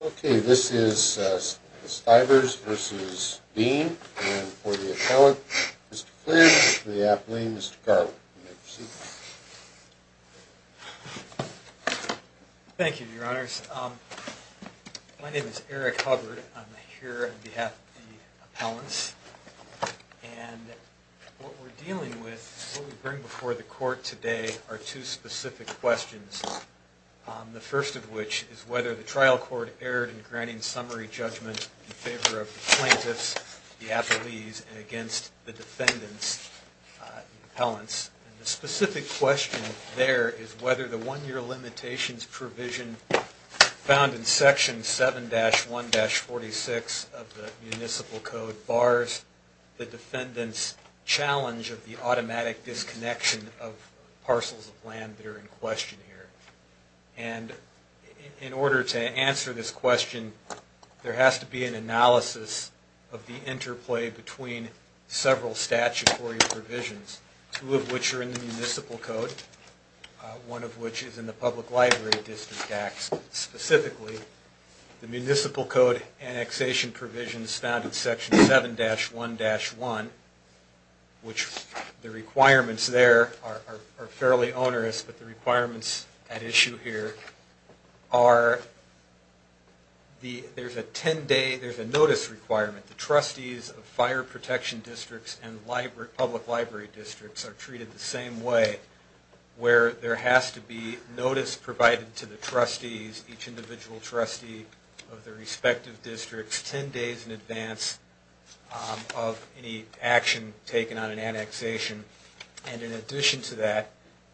And for the appellant, Mr. Cleary, and for the athlete, Mr. Garland, you may proceed. Thank you, Your Honors. My name is Eric Hubbard. I'm here on behalf of the appellants. And what we're dealing with, what we bring before the court today, are two specific questions. The first of which is whether the trial court erred in granting summary judgment in favor of the plaintiffs, the athletes, and against the defendant's appellants. And the specific question there is whether the one-year limitations provision found in Section 7-1-46 of the Municipal Code bars the defendant's challenge of the automatic disconnection of parcels of land that are in question here. And in order to answer this question, there has to be an analysis of the interplay between several statutory provisions, two of which are in the Municipal Code, one of which is in the Public Library District Act. Specifically, the Municipal Code annexation provisions found in Section 7-1-1, which the requirements there are fairly onerous, but the requirements at issue here are, there's a 10-day, there's a notice requirement. The trustees of fire protection districts and public library districts are treated the same way, where there has to be notice provided to the trustees, each individual trustee of 10 days in advance of any action taken on an annexation. And in addition to that,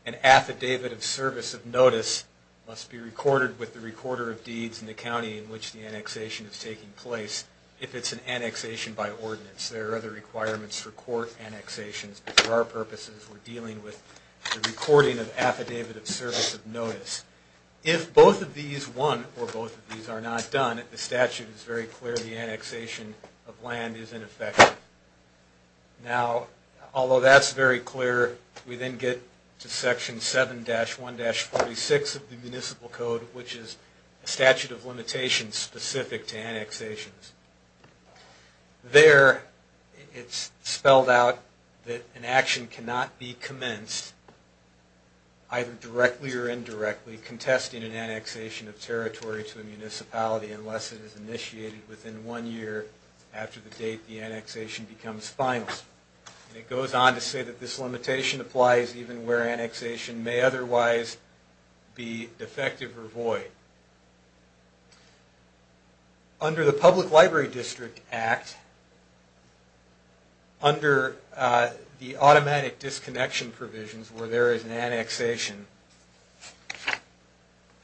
an affidavit of service of notice must be recorded with the recorder of deeds in the county in which the annexation is taking place, if it's an annexation by ordinance. There are other requirements for court annexations, but for our purposes, we're dealing with the recording of affidavit of service of notice. If both of these, one or both of these, are not done, the statute is very clear the annexation of land is in effect. Now, although that's very clear, we then get to Section 7-1-46 of the Municipal Code, which is a statute of limitations specific to annexations. There, it's spelled out that an action cannot be commenced either directly or indirectly contesting an annexation of territory to a municipality unless it is initiated within one year after the date the annexation becomes final. And it goes on to say that this limitation applies even where annexation may otherwise be defective or void. Under the Public Library District Act, under the automatic disconnection provisions where there is an annexation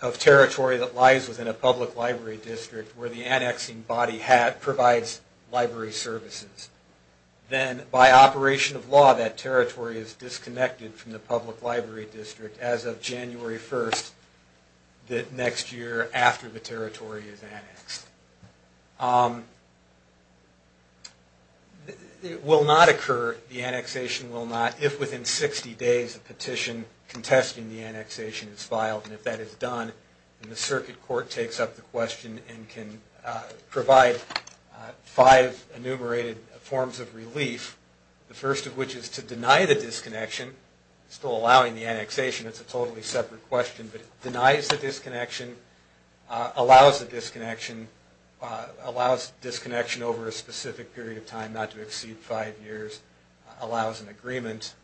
of territory that lies within a public library district where the annexing body provides library services, then by operation of law that territory is disconnected from the public library district as of January 1st, the next year after the territory is annexed. It will not occur, the annexation will not, if within 60 days a petition contesting the annexation is filed. And if that is done, then the circuit court takes up the question and can provide five enumerated forms of relief. The first of which is to deny the disconnection, still allowing the annexation, it's a totally separate question, but denies the disconnection, allows the disconnection, allows disconnection over a specific period of time not to exceed five years, allows an agreement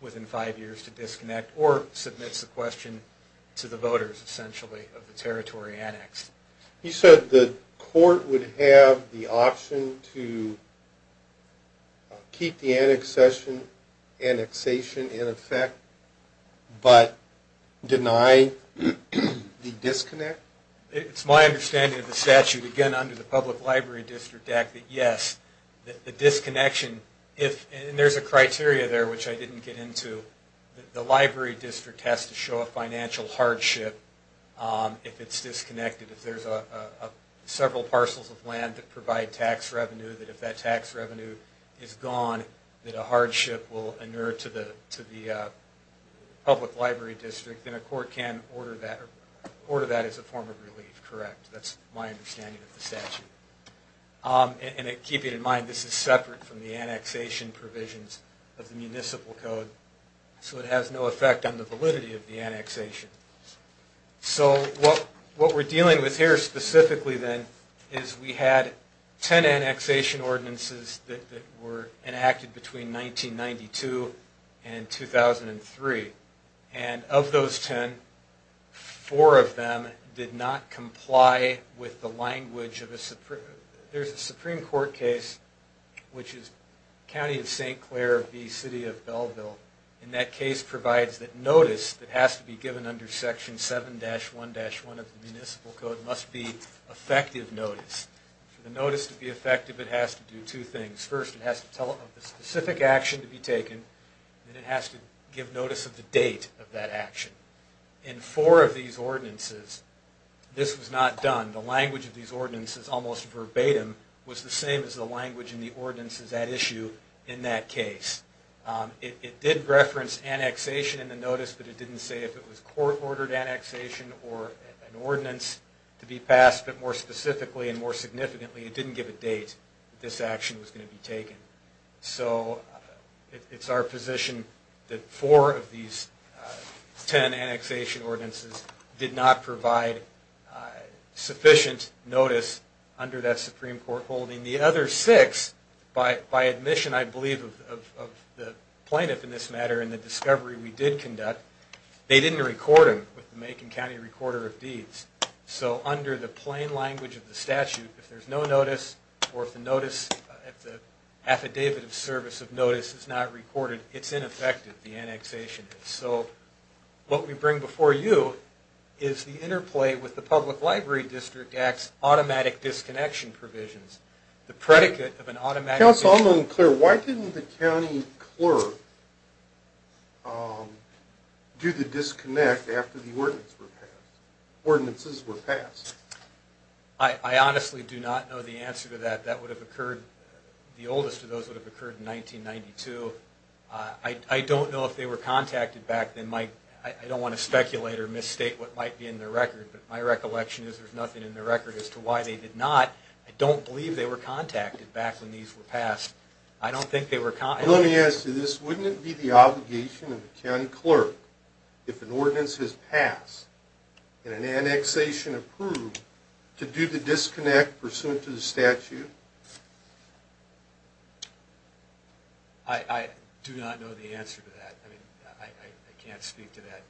within five years to disconnect, or submits the question to the voters essentially of the territory annexed. You said the court would have the option to keep the annexation in effect, but deny the disconnect? It's my understanding of the statute again under the Public Library District Act that yes, the disconnection, and there's a criteria there which I didn't get into, the library district has to show a financial hardship if it's disconnected. If there's several parcels of land that provide tax revenue, that if that tax revenue is gone, that a hardship will inure to the public library district, then a court can order that as a form of relief, correct. That's my understanding of the statute. And keep it in mind, this is separate from the annexation provisions of the municipal code, so it has no effect on the validity of the annexation. So what we're dealing with here specifically then is we had ten annexation ordinances that were enacted between 1992 and 2003, and of those ten, four of them did not comply with There's a Supreme Court case, which is County of St. Clair v. City of Belleville, and that case provides that notice that has to be given under Section 7-1-1 of the municipal code must be effective notice. For the notice to be effective, it has to do two things. First, it has to tell of the specific action to be taken, and it has to give notice of the date of that action. In four of these ordinances, this was not done. The language of these ordinances, almost verbatim, was the same as the language in the ordinances at issue in that case. It did reference annexation in the notice, but it didn't say if it was court-ordered annexation or an ordinance to be passed, but more specifically and more significantly, it didn't give a date that this action was going to be taken. So it's our position that four of these ten annexation ordinances did not provide sufficient notice under that Supreme Court holding. The other six, by admission, I believe, of the plaintiff in this matter and the discovery we did conduct, they didn't record them with the Macon County Recorder of Deeds. So under the plain language of the statute, if there's no notice or if the affidavit of service of notice is not recorded, it's ineffective, the annexation is. So what we bring before you is the interplay with the Public Library District Act's automatic disconnection provisions. The predicate of an automatic... Counsel, I'm unclear. Why didn't the county clerk do the disconnect after the ordinances were passed? I honestly do not know the answer to that. That would have occurred, the oldest of those would have occurred in 1992. I don't know if they were contacted back then. I don't want to speculate or misstate what might be in the record, but my recollection is there's nothing in the record as to why they did not. I don't believe they were contacted back when these were passed. I don't think they were... Let me ask you this. Wouldn't it be the obligation of the county clerk, if an ordinance has passed and an annexation approved, to do the disconnect pursuant to the statute? I do not know the answer to that. I mean, I can't speak to that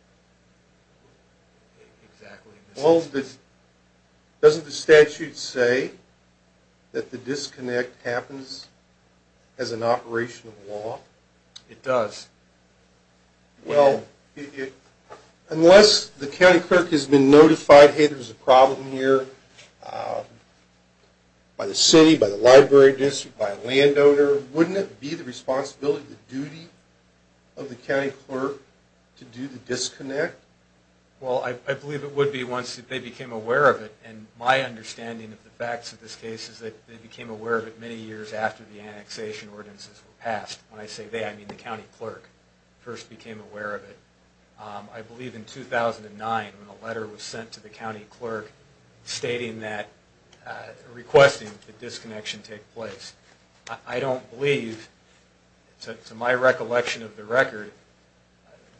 exactly. Well, doesn't the statute say that the disconnect happens as an operation of law? It does. Well, unless the county clerk has been notified, hey, there's a problem here, by the city, by the library district, by a landowner, wouldn't it be the responsibility, the duty of the county clerk to do the disconnect? Well, I believe it would be once they became aware of it, and my understanding of the facts of this case is that they became aware of it many years after the annexation ordinances were passed. When I say they, I mean the county clerk first became aware of it. I believe in 2009, when a letter was sent to the county clerk stating that, requesting the disconnection take place. I don't believe, to my recollection of the record,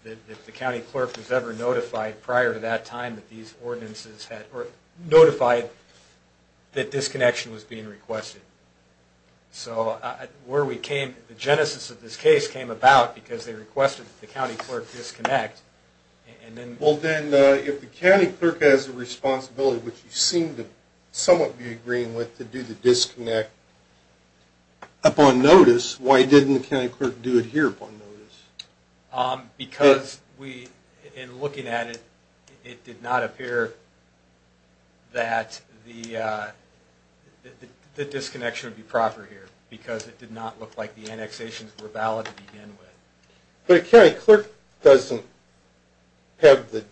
that the county clerk was ever notified prior to that time that these ordinances had, or notified that disconnection was being requested. So, where we came, the genesis of this case came about because they requested that the county clerk disconnect. Well, then, if the county clerk has a responsibility, which you seem to somewhat be agreeing with, to do the disconnect upon notice, why didn't the county clerk do it here upon notice? Because we, in looking at it, it did not appear that the disconnection would be proper here, because it did not look like the annexations were valid to begin with. But a county clerk doesn't have the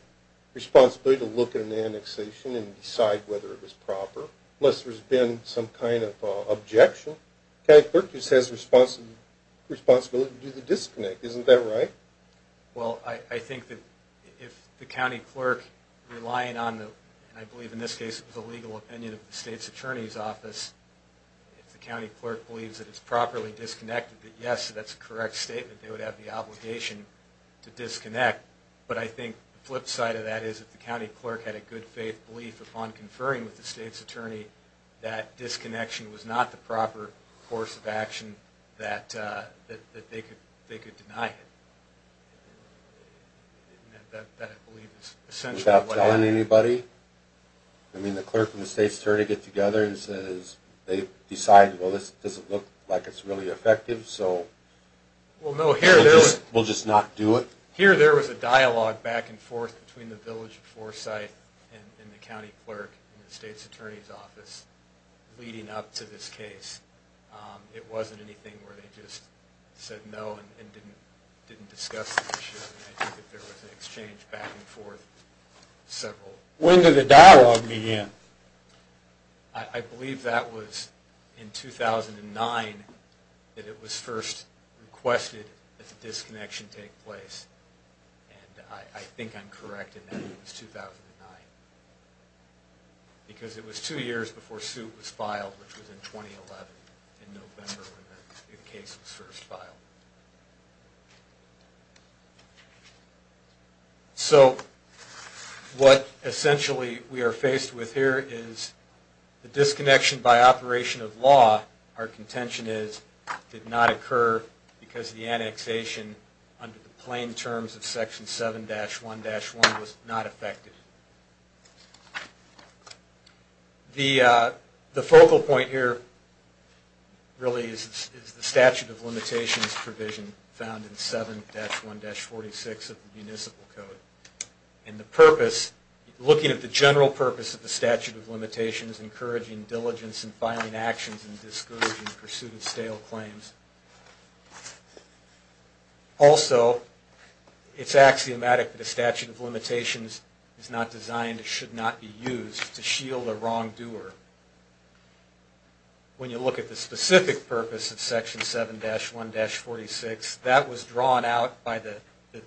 responsibility to look at an annexation and decide whether it was proper, unless there's been some kind of objection. A county clerk just has the responsibility to do the disconnect, isn't that right? Well, I think that if the county clerk, relying on the, and I believe in this case it was the legal opinion of the state's attorney's office, if the county clerk believes that it's properly disconnected, that yes, that's a correct statement, they would have the obligation to disconnect. But I think the flip side of that is if the county clerk had a good faith belief upon conferring with the state's attorney that disconnection was not the proper course of action, that they could deny it. That I believe is essentially what happened. Without telling anybody? I mean, the clerk and the state's attorney get together and says, they decide, well, this doesn't look like it's really effective, so we'll just not do it? Here there was a dialogue back and forth between the Village of Foresight and the county clerk and the state's attorney's office leading up to this case. It wasn't anything where they just said no and didn't discuss the issue. I think that there was an exchange back and forth. When did the dialogue begin? I believe that was in 2009 that it was first requested that the disconnection take place. And I think I'm correct in that it was 2009. Because it was two years before suit was filed, which was in 2011 in November when the case was first filed. So what essentially we are faced with here is the disconnection by operation of law, our contention is, did not occur because the annexation under the plain terms of Section 7-1-1 was not effective. The focal point here really is the statute of limitations provision found in 7-1-46 of the Municipal Code. And the purpose, looking at the general purpose of the statute of limitations, encouraging diligence in filing actions and discouraging pursuit of stale claims. Also, it's axiomatic that a statute of limitations is not designed and should not be used to shield a wrongdoer. When you look at the specific purpose of Section 7-1-46, that was drawn out by the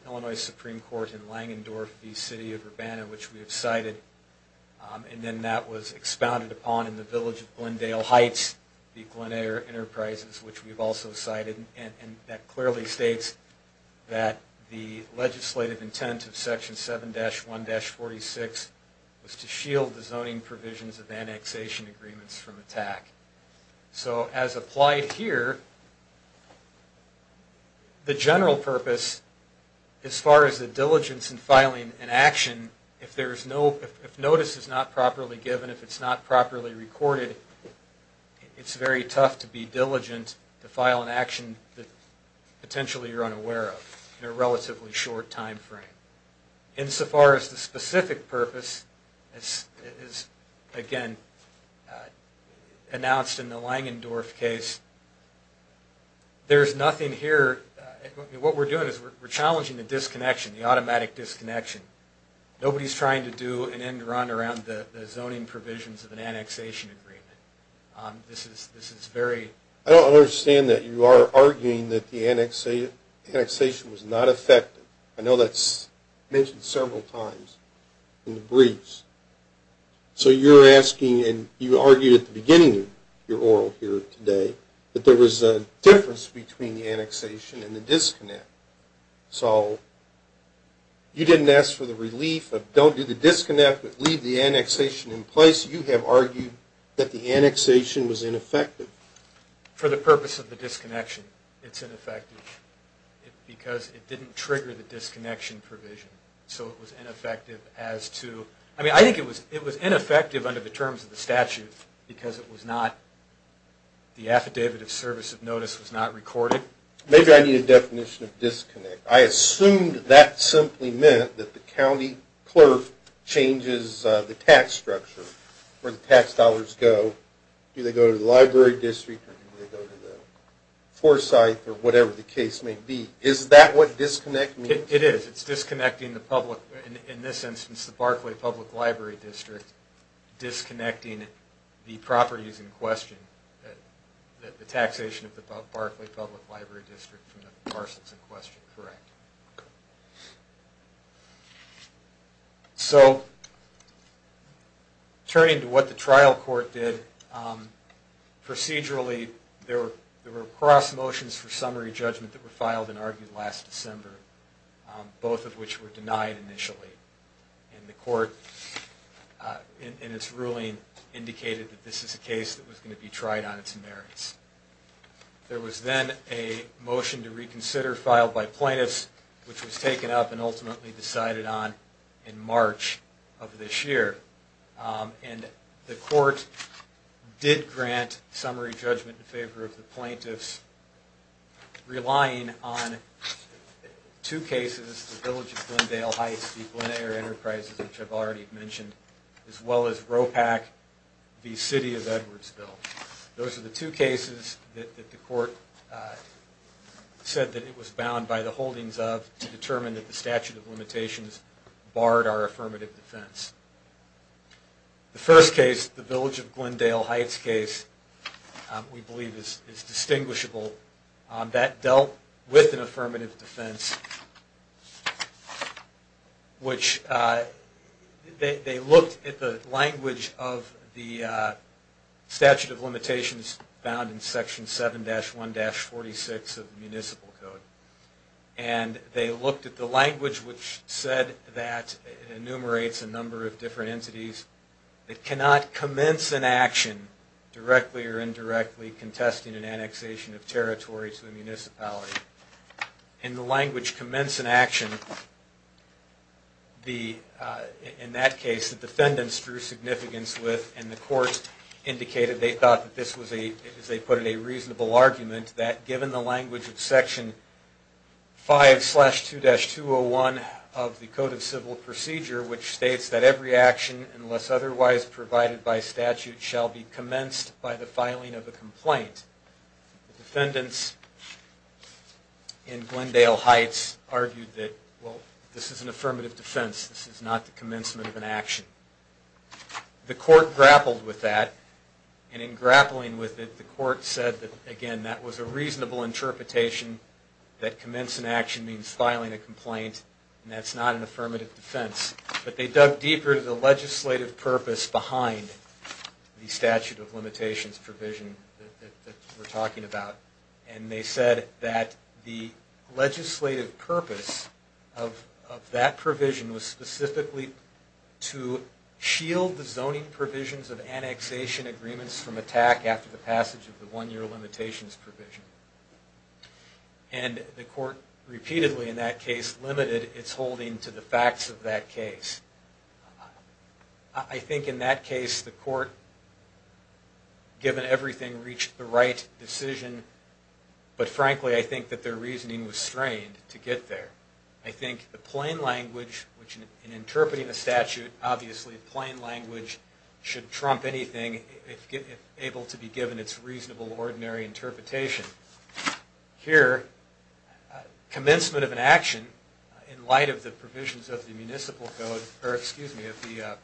Illinois Supreme Court in Langendorf, the city of Urbana, which we have cited. And then that was expounded upon in the village of Glendale Heights, the Glenair Enterprises, which we have also cited. And that clearly states that the legislative intent of Section 7-1-46 was to shield the zoning provisions of annexation agreements from attack. So as applied here, the general purpose, as far as the diligence in filing an action, if notice is not properly given, if it's not properly recorded, it's very tough to be diligent to file an action that potentially you're unaware of in a relatively short time frame. Insofar as the specific purpose is, again, announced in the Langendorf case, there's nothing here. What we're doing is we're challenging the disconnection, the automatic disconnection. Nobody's trying to do an end-run around the zoning provisions of an annexation agreement. This is very... I don't understand that. You are arguing that the annexation was not effective. I know that's mentioned several times in the briefs. So you're asking, and you argued at the beginning of your oral here today, that there was a difference between the relief of don't do the disconnect but leave the annexation in place. You have argued that the annexation was ineffective. For the purpose of the disconnection, it's ineffective because it didn't trigger the disconnection provision. So it was ineffective as to... I mean, I think it was ineffective under the terms of the statute because it was not... Maybe I need a definition of disconnect. I assumed that simply meant that the county clerk changes the tax structure where the tax dollars go. Do they go to the library district or do they go to the foresight or whatever the case may be. Is that what disconnect means? It is. It's disconnecting the public, in this instance the Barclay Public Library District, and it's disconnecting the properties in question. The taxation of the Barclay Public Library District from the parcels in question. So turning to what the trial court did, procedurally there were cross motions for summary judgment that were filed and argued last December, both of which were denied initially. And the court in its ruling indicated that this is a case that was going to be tried on its merits. There was then a motion to reconsider filed by plaintiffs, which was taken up and ultimately decided on in March of this year. And the court did grant summary judgment in favor of the plaintiffs, relying on two cases, the Village of Glendale Heights, the Glen Eyre Enterprises, which I've already mentioned, as well as ROPAC, the City of Edwardsville. Those are the two cases that the court said that it was bound by the holdings of to determine that the statute of limitations barred our affirmative defense. The first case, the Village of Glendale Heights case, we believe is distinguishable. That dealt with an affirmative defense, which they looked at the language of the statute of limitations found in Section 7-1-46 of the Municipal Code. And they looked at the language which said that it enumerates a number of different entities that cannot commence an action, directly or indirectly, contesting an annexation of territory to a municipality. And the language commence an action, in that case, the defendants drew significance with, and the court indicated they thought that this was a, as they put it, a reasonable argument, that given the language of Section 5-2-201 of the Code of Civil Procedure, which states that every action, unless otherwise provided by statute, shall be commenced by the filing of a complaint. The defendants in Glendale Heights argued that, well, this is an affirmative defense, this is not the commencement of an action. The court grappled with that, and in grappling with it, the court said that, again, that was a reasonable interpretation, that commence an action means filing a complaint, and that's not an affirmative defense. But they dug deeper to the legislative purpose behind the statute of limitations provision that we're talking about. And they said that the legislative purpose of that provision was specifically to shield the zoning provisions of annexation agreements from attack after the passage of the one-year limitations provision. And the court repeatedly, in that case, limited its holding to the facts of that case. I think, in that case, the court, given everything, reached the right decision, but frankly, I think that their reasoning was strained to get there. I think the plain language, which in interpreting the statute, obviously, plain language should trump anything if able to be given its reasonable, ordinary interpretation. Here, commencement of an action, in light of the provisions of the municipal code, or, excuse me, of the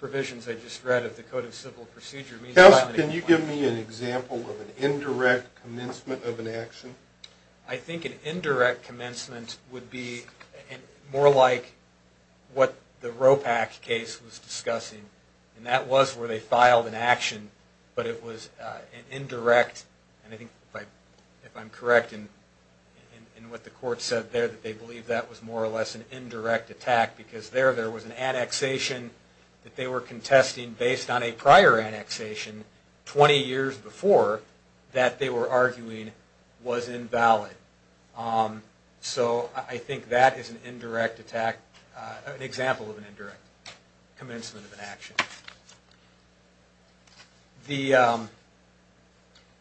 provisions I just read of the Code of Civil Procedure, means filing a complaint. Counsel, can you give me an example of an indirect commencement of an action? I think an indirect commencement would be more like what the ROPAC case was discussing. And that was where they filed an action, but it was an indirect, and I think, if I'm correct, in what the court said there, that they believe that was more or less an indirect attack. Because there, there was an annexation that they were contesting based on a prior annexation, 20 years before, that they were arguing was invalid. So, I think that is an indirect attack, an example of an indirect commencement of an action.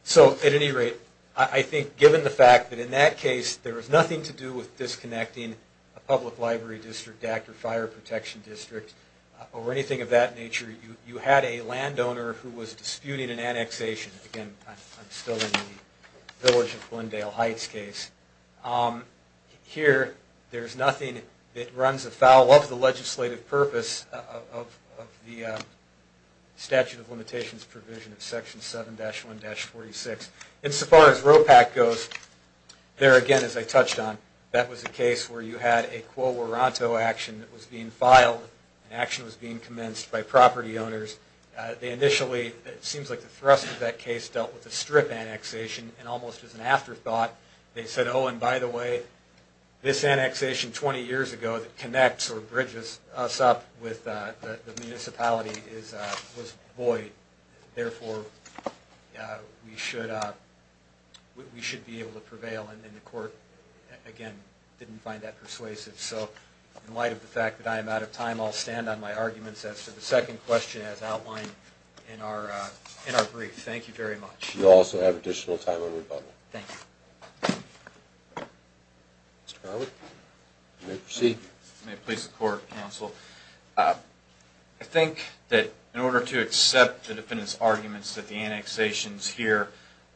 So, at any rate, I think, given the fact that in that case, there was nothing to do with disconnecting a public library district, DAC, or fire protection district, or anything of that nature, you had a landowner who was disputing an annexation. Again, I'm still in the Village of Glendale Heights case. Here, there's nothing that runs afoul of the legislative purpose of the statute of limitations provision of Section 7-1-46. Insofar as ROPAC goes, there again, as I touched on, that was a case where you had a quo morato action that was being filed. An action was being commenced by property owners. They initially, it seems like the thrust of that case dealt with a strip annexation, and almost as an afterthought, they said, oh, and by the way, this annexation 20 years ago that connects or bridges us up with the municipality was void. Therefore, we should be able to prevail. And the court, again, didn't find that persuasive. So, in light of the fact that I am out of time, I'll stand on my arguments as to the second question as outlined in our brief. Thank you very much. You also have additional time on rebuttal. Thank you. May it please the Court, Counsel. I think that in order to accept the defendant's arguments that the annexations here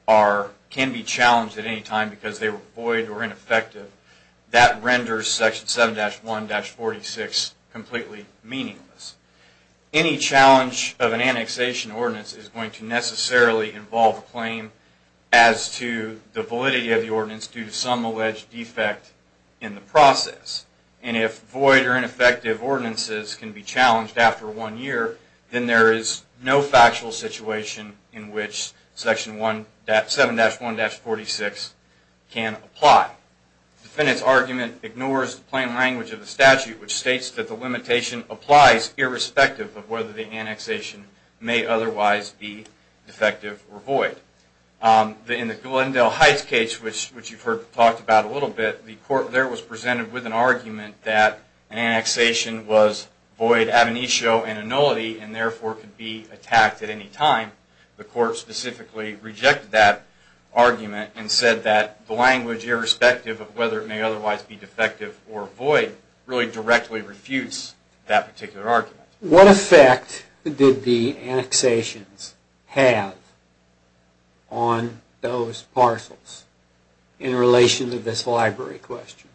are, can be challenged at any time because they were void or ineffective, that renders Section 7-1-46 completely meaningless. Any challenge of an annexation ordinance is going to necessarily involve a claim as to the validity of the ordinance due to some alleged defect in the process. And if void or ineffective ordinances can be challenged after one year, then there is no factual situation in which 7-1-46 can apply. The defendant's argument ignores the plain language of the statute, which states that the limitation applies irrespective of whether the annexation may otherwise be defective or void. In the Glendale Heights case, which you've heard talked about a little bit, the court there was presented with an argument that an annexation was void ab initio and annullity, and therefore could be attacked at any time. The court specifically rejected that argument and said that the language irrespective of whether it may otherwise be defective or void really directly refutes that particular argument. What effect did the annexations have on those parcels in relation to this library question?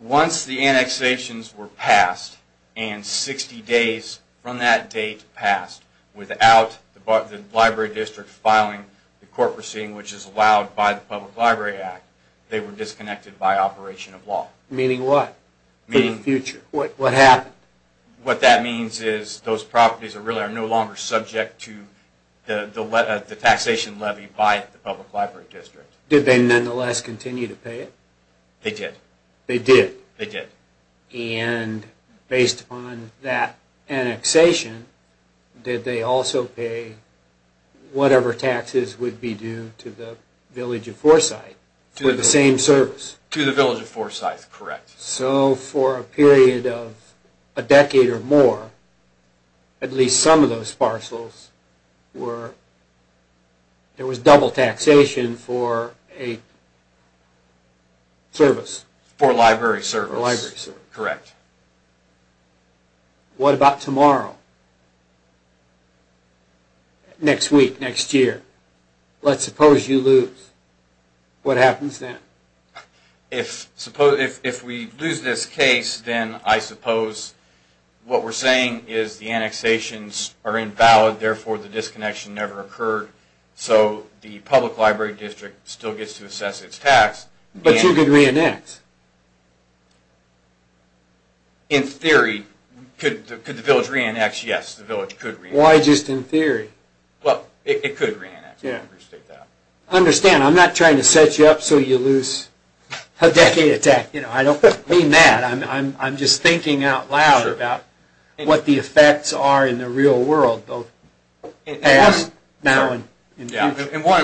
Once the annexations were passed and 60 days from that date passed without the library district filing the court proceeding which is allowed by the Public Library Act, they were disconnected by operation of law. Meaning what for the future? What happened? What that means is those properties are no longer subject to the taxation levy by the Public Library District. Did they nonetheless continue to pay it? They did. And based upon that annexation, did they also pay whatever taxes would be due to the Village of Forsyth for the same service? To the Village of Forsyth, correct. So for a period of a decade or more, at least some of those parcels were there was double taxation for a service. For a library service. Correct. What about tomorrow? Next week, next year? Let's suppose you lose. What happens then? If we lose this case, then I suppose what we're saying is the annexations are invalid, therefore the disconnection never occurred. So the Public Library District still gets to assess its tax. But you could re-annex? In theory, could the Village re-annex? Yes, the Village could re-annex. Why just in theory? Well, it could re-annex. Understand, I'm not trying to set you up so you know what the effects are in the real world. One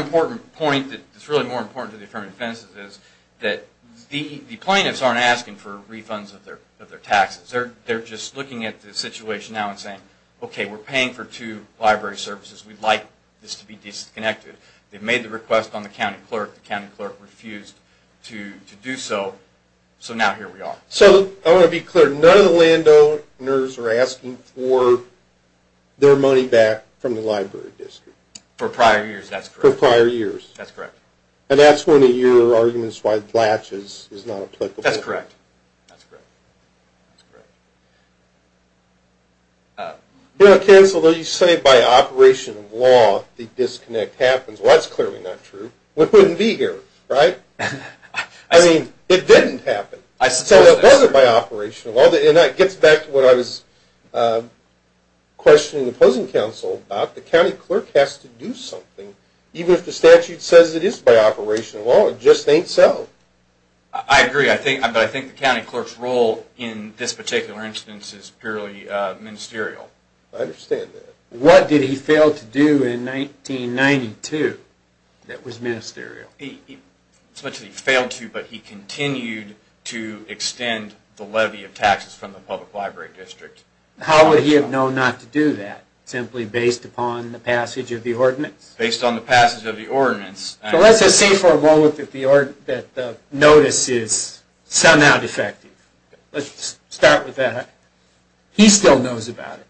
important point that is really more important to the Affirming Offenses is that the plaintiffs aren't asking for refunds of their taxes. They're just looking at the situation now and saying, okay, we're paying for two library services. We'd like this to be disconnected. They've made the request on the county clerk. The county clerk refused to do so, so now here we are. So, I want to be clear, none of the landowners are asking for their money back from the Library District? For prior years, that's correct. For prior years? That's correct. And that's one of your arguments why the latch is not applicable? That's correct. You know, Ken, so you say by operation of law the disconnect happens. Well, that's clearly not true. It wouldn't be here, right? I mean, it didn't happen. So, it wasn't by operation of law. And that gets back to what I was questioning the opposing counsel about. The county clerk has to do something. Even if the statute says it is by operation of law, it just ain't so. I agree, but I think the county clerk's role in this particular instance is purely ministerial. I understand that. What did he fail to do in 1992 that was ministerial? He essentially failed to, but he continued to extend the levy of taxes from the Public Library District. How would he have known not to do that? Simply based upon the passage of the ordinance? Based on the passage of the ordinance. So, let's just say for a moment that the notice is somehow defective. Let's start with that. He still knows about it.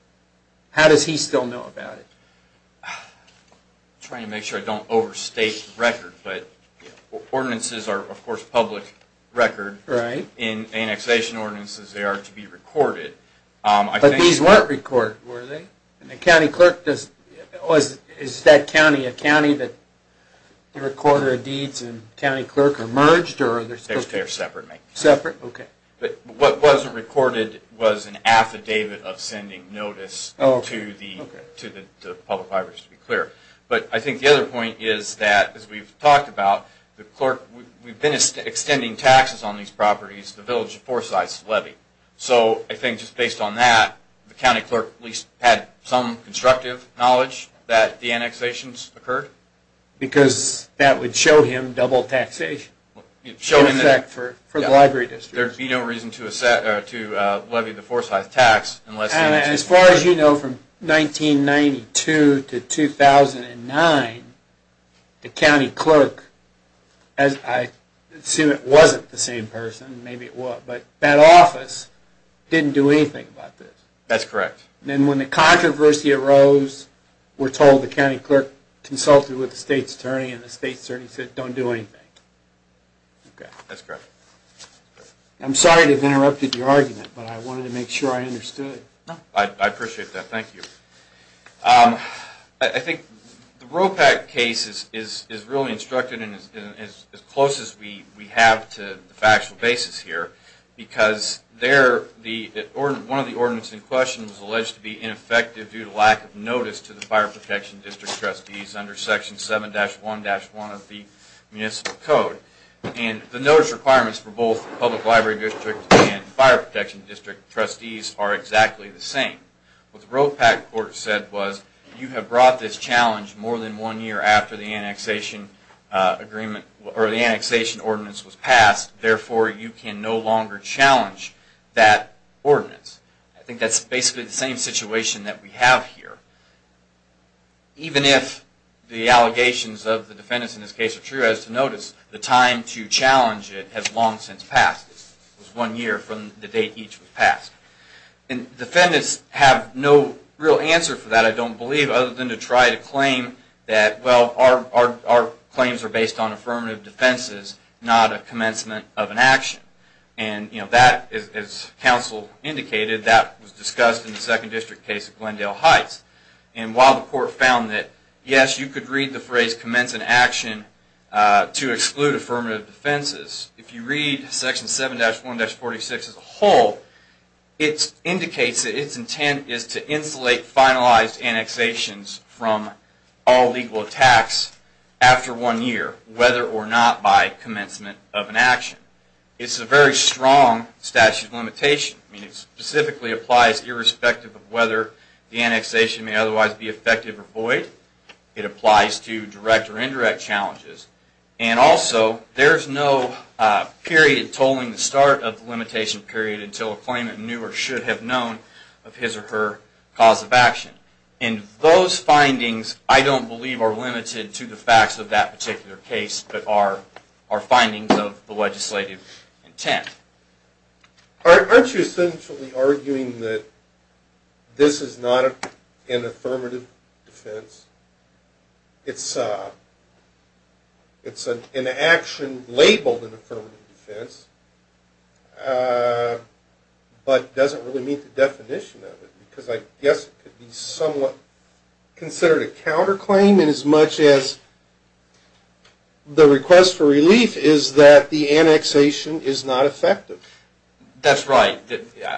How does he still know about it? I'm trying to make sure I don't overstate the record, but ordinances are of course public record. In annexation ordinances they are to be recorded. But these weren't recorded, were they? Is that county that the recorder of deeds and county clerk are merged? They are separate. But what wasn't recorded was an affidavit of sending notice to the public libraries to be clear. But I think the other point is that, as we've talked about, the clerk, we've been extending taxes on these properties, the village of Forsyth's levy. So I think just based on that the county clerk at least had some constructive knowledge that the annexations occurred? Because that would show him double taxation. There would be no reason to levy the Forsyth tax unless... And as far as you know from 1992 to 2009 the county clerk, I assume it wasn't the same person, maybe it was, but that office didn't do anything about this. And when the controversy arose we're told the county clerk consulted with the state's attorney and the state's attorney said don't do anything. I'm sorry to have interrupted your argument, but I wanted to make sure I understood. I appreciate that, thank you. I think the ROPEC case is really instructed and as close as we have to the factual basis here because one of the ordinance in question was alleged to be ineffective due to lack of notice to the fire protection district trustees under section 7-1-1 of the municipal code. And the notice requirements for both public library district and fire protection district trustees are exactly the same. What the ROPEC court said was you have brought this challenge more than one year after the annexation ordinance was passed, therefore you can no longer challenge that ordinance. I think that's basically the same situation that we have here. Even if the allegations of the defendants in this case are true, as to notice, the time to challenge it has long since passed. One year from the date each was passed. Defendants have no real answer for that, I don't believe, other than to try to claim that our claims are based on affirmative defenses, not a commencement of an action. As counsel indicated, that was discussed in the second district case at Glendale Heights. While the court found that yes, you could read the phrase commencement of an action to exclude affirmative defenses, if you read section 7-1-46 as a whole, it indicates that its intent is to insulate finalized annexations from all legal attacks after one year, whether or not by commencement of an action. It's a very strong statute of limitation. It specifically applies irrespective of whether the annexation may otherwise be effective or void. It applies to direct or indirect challenges. And also, there's no period tolling the start of the limitation period until a claimant knew or should have known of his or her cause of action. And those findings, I don't believe, are limited to the facts of that particular case, but are findings of the legislative intent. Aren't you essentially arguing that this is not an affirmative defense? It's an action labeled an affirmative defense, but doesn't really meet the definition of it, because I guess it could be somewhat considered a counterclaim inasmuch as the request for relief is that the annexation is not effective. That's right.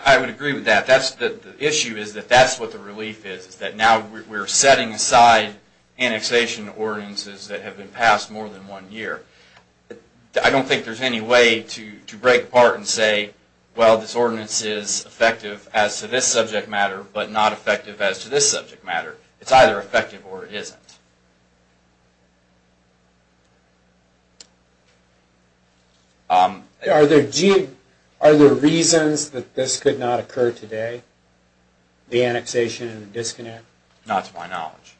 I would agree with that. The issue is that that's what the relief is, is that now we're setting aside annexation ordinances that have been passed more than one year. I don't think there's any way to break apart and say, well, this ordinance is effective as to this subject matter, but not effective as to this subject matter. It's either effective or it isn't. Are there reasons that this could not occur today, the annexation and the disconnect? Not to my knowledge.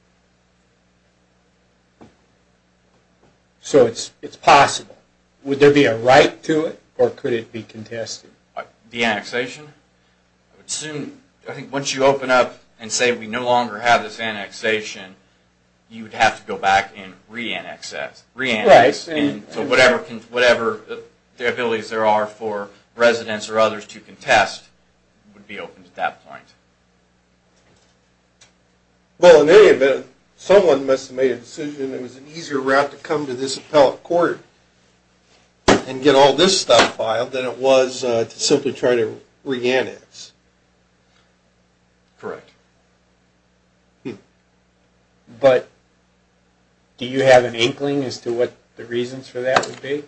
So it's possible. Would there be a right to it, or could it be contested? The annexation? I think once you open up and say we no longer have this annexation, you'd have to go back and re-annex it. So whatever the abilities there are for residents or others to contest would be open at that point. Well, in any event, someone must have made a decision that it was an easier route to come to this stockpile than it was to simply try to re-annex. Correct. Do you have an inkling as to what the reasons for that would be?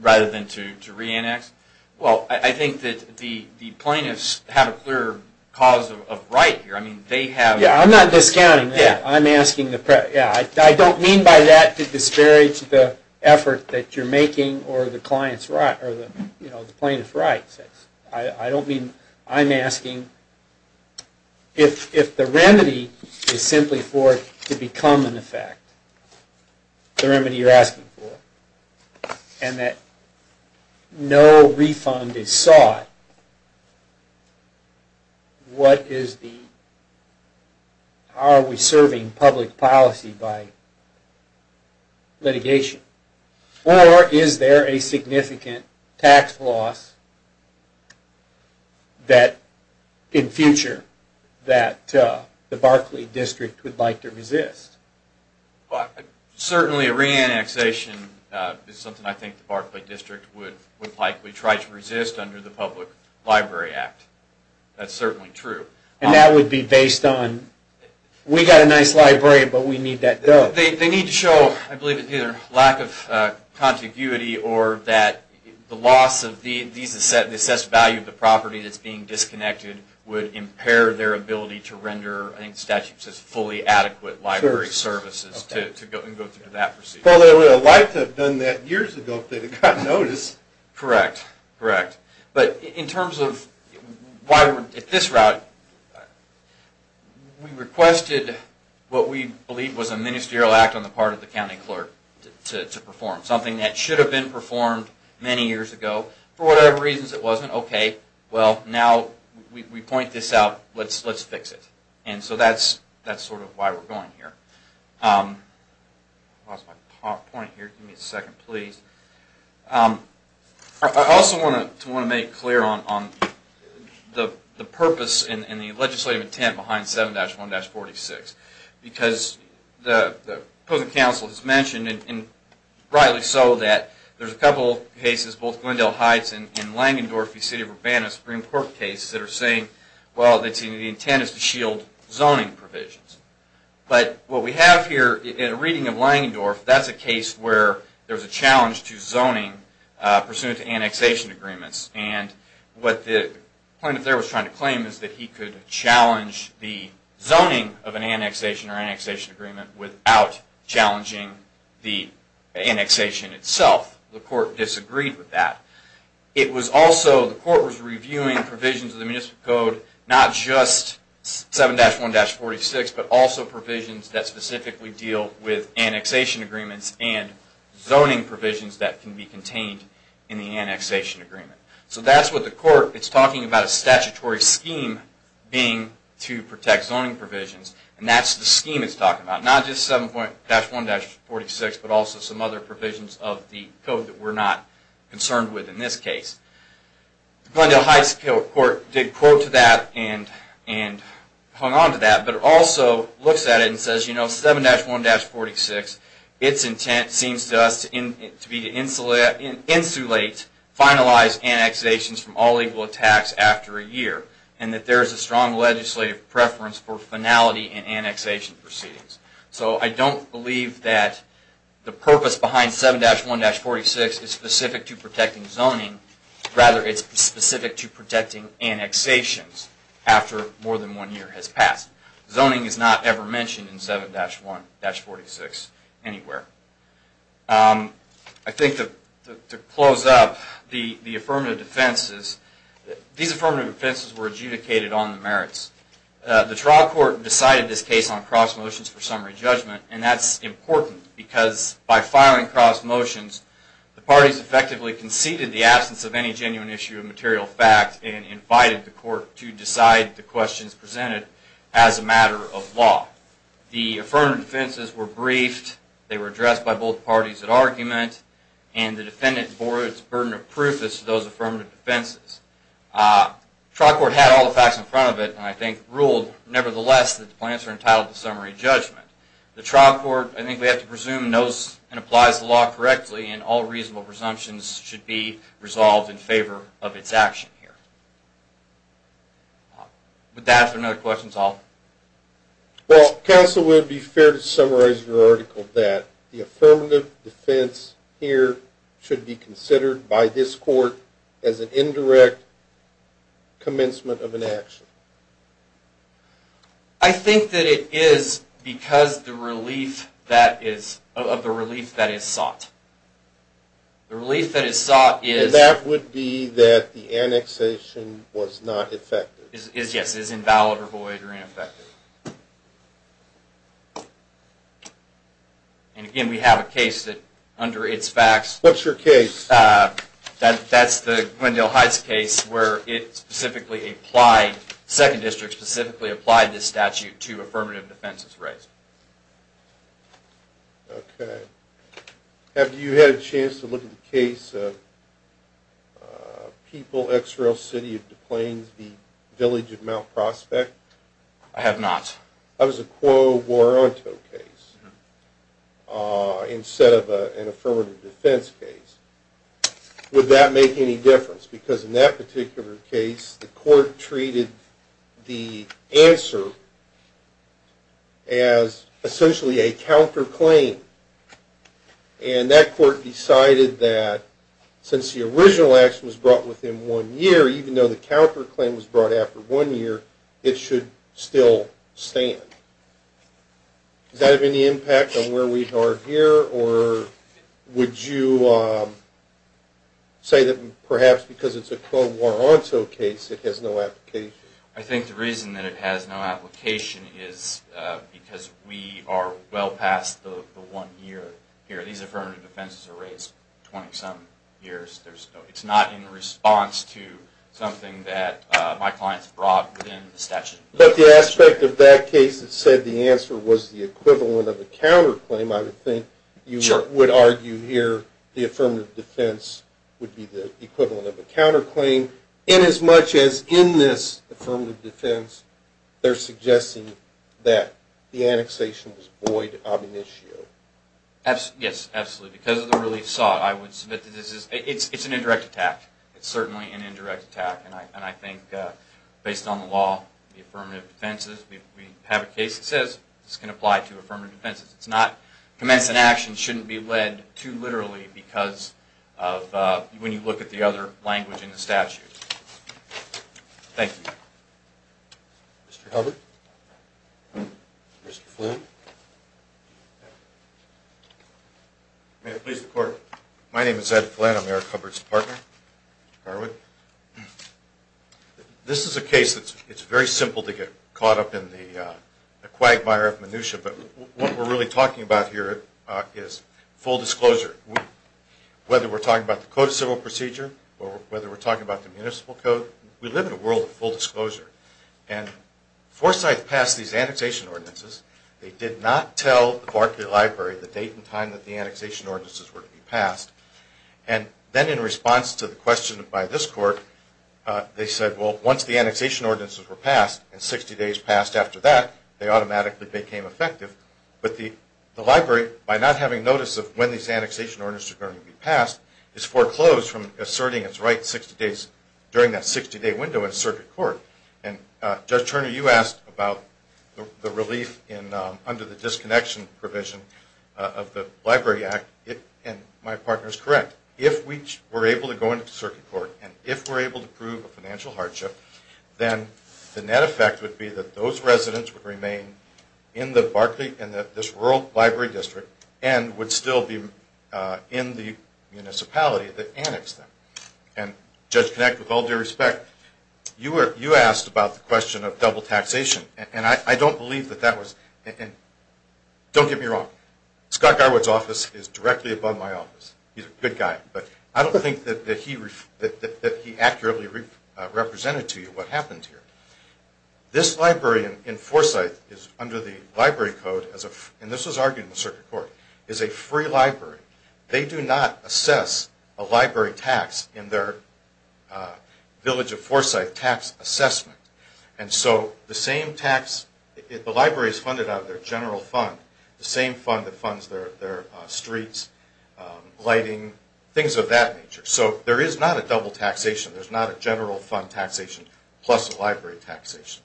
Rather than to re-annex? Well, I think that the plaintiffs have a clear cause of right here. I'm not discounting that. I don't mean by that to disparage the effort that you're making or the plaintiff's rights. I don't mean I'm asking if the remedy is simply for it to become an effect, the remedy you're asking for, and that no refund is sought, what is the are we serving public policy by litigation? Or is there a significant tax loss that in future that the Barclay District would like to resist? Certainly a re-annexation is something I think the Barclay District would likely try to resist under the Public Library Act. That's certainly true. And that would be based on we've got a nice library, but we need that dough. They need to show either lack of contiguity or that the loss of the assessed value of the property that's being disconnected would impair their ability to render, I think the statute says, fully adequate library services to go through that procedure. Well, they would have liked to have done that years ago if they had gotten notice. Correct. But in terms of this route, we requested what we believe was a ministerial act on the part of the county clerk to perform, something that should have been performed many years ago. For whatever reasons it wasn't, okay, well now we point this out, let's fix it. And so that's sort of why we're going here. I also want to make clear on the purpose and the legislative intent behind 7-1-46. Because the opposing council has mentioned rightly so that there's a couple of cases, both Glendale Heights and Langendorfe City of Urbana Supreme Court cases that are saying, well, the intent is to shield zoning provisions. But what we have here in a reading of Langendorfe, that's a case where there's a challenge to zoning pursuant to annexation agreements. And what the plaintiff there was trying to claim is that he could challenge the annexation itself. The court disagreed with that. The court was reviewing provisions of the municipal code, not just 7-1-46, but also provisions that specifically deal with annexation agreements and zoning provisions that can be contained in the annexation agreement. So that's what the court is talking about, a statutory scheme being to protect zoning provisions. And that's the scheme it's talking about, not just 7-1-46, but also some other provisions of the code that we're not concerned with in this case. The Glendale Heights court did quote to that and hung on to that, but also looks at it and says, you know, 7-1-46, its intent seems to us to be to insulate, finalize annexations from all legal attacks after a year, and that there is a strong legislative preference for finality in annexation proceedings. So I don't believe that the purpose behind 7-1-46 is specific to protecting zoning. Rather, it's specific to protecting annexations after more than one year has passed. Zoning is not ever mentioned in 7-1-46 anywhere. I think to close up, the affirmative defenses, these affirmative defenses were adjudicated on the merits. The trial court decided this case on cross motions for summary judgment, and that's important because by filing cross motions, the parties effectively conceded the absence of any genuine issue of material fact and invited the court to decide the questions presented as a matter of law. The affirmative defenses were briefed, they were addressed by both parties at argument, and the defendant bore its burden of proof to those affirmative defenses. The trial court had all the facts in front of it, and I think ruled nevertheless that the plans are entitled to summary judgment. The trial court, I think we have to presume knows and applies the law correctly, and all reasonable presumptions should be resolved in favor of its action here. Would that answer another question, Saul? Well, counsel, would it be fair to summarize your article that the affirmative defense here should be considered by this court as an indirect commencement of an action? I think that it is because of the relief that is there, but it could be that the annexation was not effective. Yes, it is invalid, or void, or ineffective. And again, we have a case that under its facts... What's your case? That's the Glendale Heights case where it specifically applied, the 2nd District specifically applied this statute to affirmative defenses rights. Okay. Have you had a chance to look at the case of People, X-Rail, City of Des Plaines v. Village of Mount Prospect? I have not. That was a Quo Vorento case instead of an affirmative defense case. Would that make any difference? Because in that particular case, the court treated the answer as essentially a counterclaim. And that court decided that since the original action was brought within one year, even though the counterclaim was brought after one year, it should still stand. Does that have any impact on where we are here, or would you say that perhaps because it's a Quo Vorento case, it has no application? I think the reason that it has no application is because we are well past the one year here. These affirmative defenses are raised 20-some years. It's not in response to something that my clients brought within the statute. But the aspect of that case that said the answer was the equivalent of a counterclaim, I would think you would argue here the affirmative defense would be the equivalent of a counterclaim. And as much as in this affirmative defense, they're suggesting that the annexation was void ob initio. Yes, absolutely. Because of the relief sought, I would submit that it's an indirect attack. It's certainly an indirect attack. And I think based on the law, the affirmative defenses, we have a case that says this can apply to affirmative defenses. Commence an action shouldn't be led too literally because of when you look at the other language in the statute. Thank you. Mr. Hubbard? Mr. Flynn? May it please the Court? My name is Ed Flynn. I'm Eric Hubbard's partner. This is a case that's very simple to get caught up in the quagmire of minutia. But what we're really talking about here is full disclosure. Whether we're talking about the code of civil procedure or whether we're talking about the municipal code, we live in a world of full disclosure. And Forsyth passed these annexation ordinances. They did not tell the Barclay Library the date and time that the annexation ordinances were to be passed. And then in response to the question by this Court, they said, well, once the annexation ordinances were passed and 60 days passed after that, they automatically became effective. But the Library, by not having notice of when these annexation ordinances are going to be passed, is foreclosed from asserting its right during that 60-day window in circuit court. And Judge Turner, you asked about the relief under the disconnection provision of the Library Act, and my partner is correct. If we were able to go into circuit court and if we're able to prove a financial hardship, then the net effect would be that those residents would remain in this rural library district and would still be in the district. You asked about the question of double taxation, and I don't believe that that was – don't get me wrong. Scott Garwood's office is directly above my office. He's a good guy, but I don't think that he accurately represented to you what happened here. This library in Forsyth is under the library code, and this was argued in the circuit court, is a free library. They do not have the Forsyth tax assessment. And so the same tax – the library is funded out of their general fund, the same fund that funds their streets, lighting, things of that nature. So there is not a double taxation. There's not a general fund taxation plus a library taxation.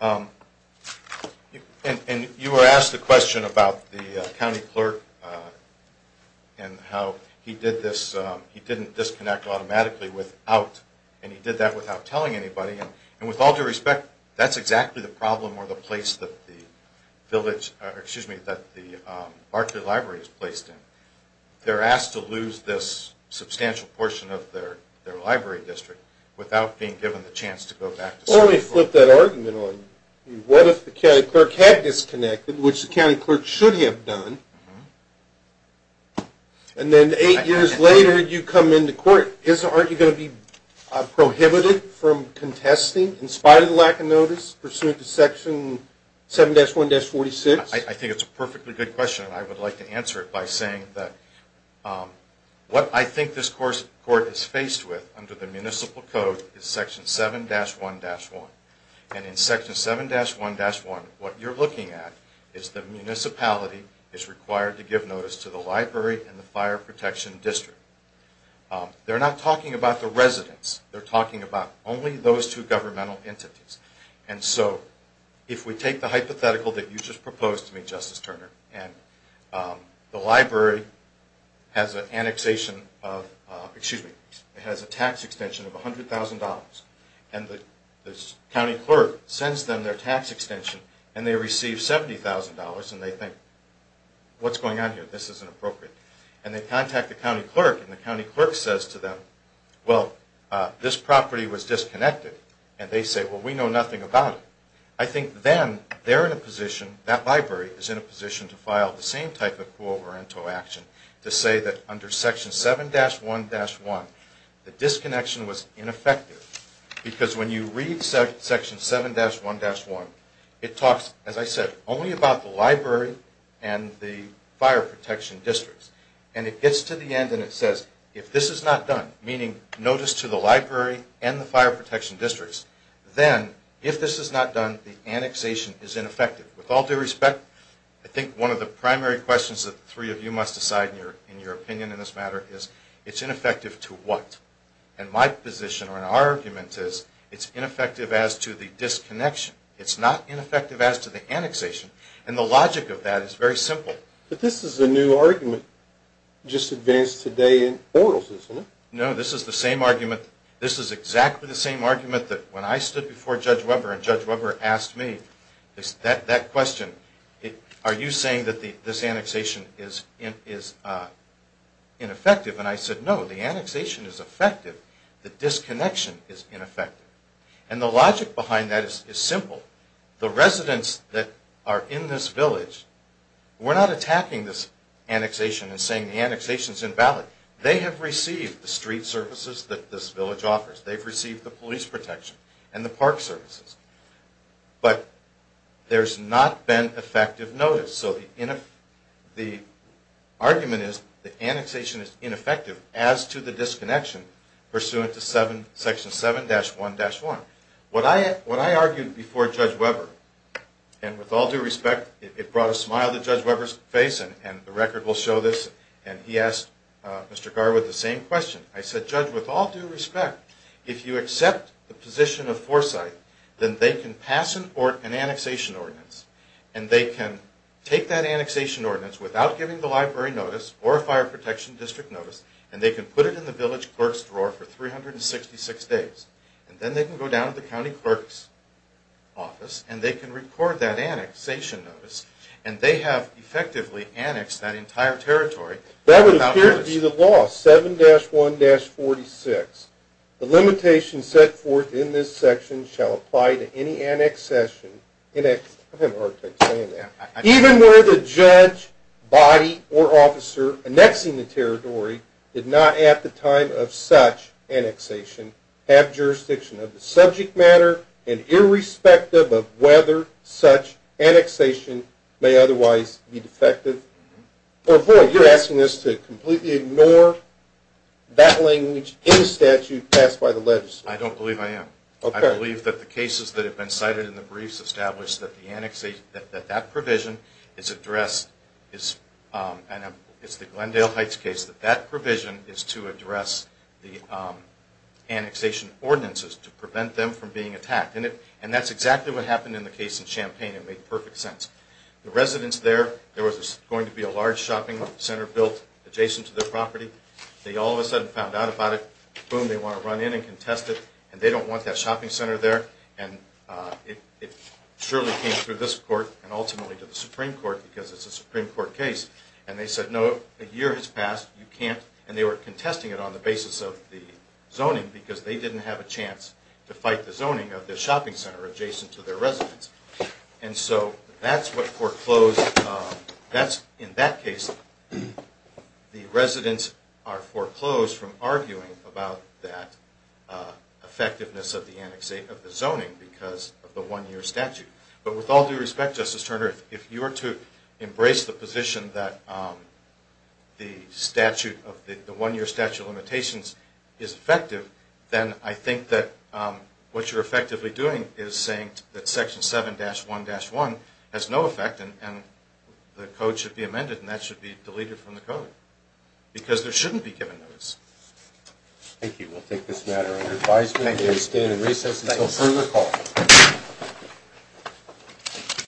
And you were asked the question about the county clerk and how he did this – he didn't disconnect automatically without – and he did that without telling anybody. And with all due respect, that's exactly the problem or the place that the village – excuse me, that the Barkley Library is placed in. They're asked to lose this substantial portion of their library district without being given the chance to go back to circuit court. Well, let me flip that argument on you. What if the county clerk had disconnected, which the county clerk should have done, and then eight years later you come into court, aren't you going to be prohibited from contesting in spite of the lack of notice pursuant to Section 7-1-46? I think it's a perfectly good question, and I would like to answer it by saying that what I think this court is faced with under the municipal code is Section 7-1-1. And in Section 7-1-1, what you're looking at is the municipality is required to give notice to the library and the fire protection district. They're not talking about the residents. They're talking about only those two governmental entities. And so if we take the hypothetical that you just proposed to me, Justice Turner, and the library has a tax extension of $100,000, and the county clerk sends them their tax extension, and they receive $70,000, and they think, what's going on here? This isn't appropriate. And they contact the county clerk, and the county clerk says to them, well, this property was disconnected. And they say, well, we know nothing about it. I think then they're in a position, that library is in a position to file the same type of co-occurrent action to say that under Section 7-1-1, the disconnection was ineffective. Because when you read Section 7-1-1, it talks, as I said, only about the library and the fire protection districts. And it gets to the end and it says, if this is not done, meaning notice to the library and the fire protection districts, that the annexation is ineffective. With all due respect, I think one of the primary questions that the three of you must decide in your opinion in this matter is, it's ineffective to what? And my position or our argument is, it's ineffective as to the disconnection. It's not ineffective as to the annexation. And the logic of that is very simple. But this is a new argument just advanced today in Oral, isn't it? No, this is the same argument. This is exactly the same argument that when I stood before Judge Weber and Judge Weber asked me that question, are you saying that this annexation is ineffective? And I said, no, the annexation is effective. The disconnection is ineffective. And the logic behind that is simple. The residents that are in this village, we're not attacking this annexation and saying the annexation is invalid. They have received the street services that this village offers. They've received the police protection and the park services. But there's not been effective notice. So the argument is the annexation is ineffective as to the disconnection pursuant to Section 7-1-1. What I argued before Judge Weber, and with all due respect, it brought a smile to Judge Weber's face and the record will show this, and he asked Mr. Garwood the same question. I said, Judge, with all due respect, if you accept the position of foresight, then they can pass an annexation ordinance and they can take that annexation ordinance without giving the library notice or fire protection district notice and they can put it in the village clerks' drawer for 366 days. And then they can go down to the county clerk's office and they can record that annexation notice. And they have effectively annexed that entire territory without notice. That would appear to be the law, 7-1-46. The limitations set forth in this section shall apply to any annexation in a... I'm having a hard time saying that. Even where the judge, body, or officer annexing the territory did not at the time of such annexation have jurisdiction of the subject matter and irrespective of whether such annexation may otherwise be defective. You're asking us to completely ignore that language in the statute passed by the legislature. I don't believe I am. I believe that the cases that have been and it's the Glendale Heights case, that that provision is to address the annexation ordinances to prevent them from being attacked. And that's exactly what happened in the case in Champaign. It made perfect sense. The residents there, there was going to be a large shopping center built adjacent to their property. They all of a sudden found out about it. Boom, they want to run in and contest it. And they don't want that shopping center there. And it surely came through this court and ultimately to the Supreme Court because it's a Supreme Court case. And they said, no, a year has passed. You can't. And they were contesting it on the basis of the zoning because they didn't have a chance to fight the zoning of the shopping center adjacent to their residence. And so that's what foreclosed that's, in that case, the residents are foreclosed from arguing about that effectiveness of the zoning because of the one-year statute. But with all due respect, Justice Turner, if you were to embrace the position that the statute, the one-year statute of limitations is effective, then I think that what you're effectively doing is saying that Section 7-1-1 has no effect and the code should be amended and that should be deleted from the code because there shouldn't be given notice. Thank you. We'll take this matter under advisement. Thank you. We stand in recess until further call.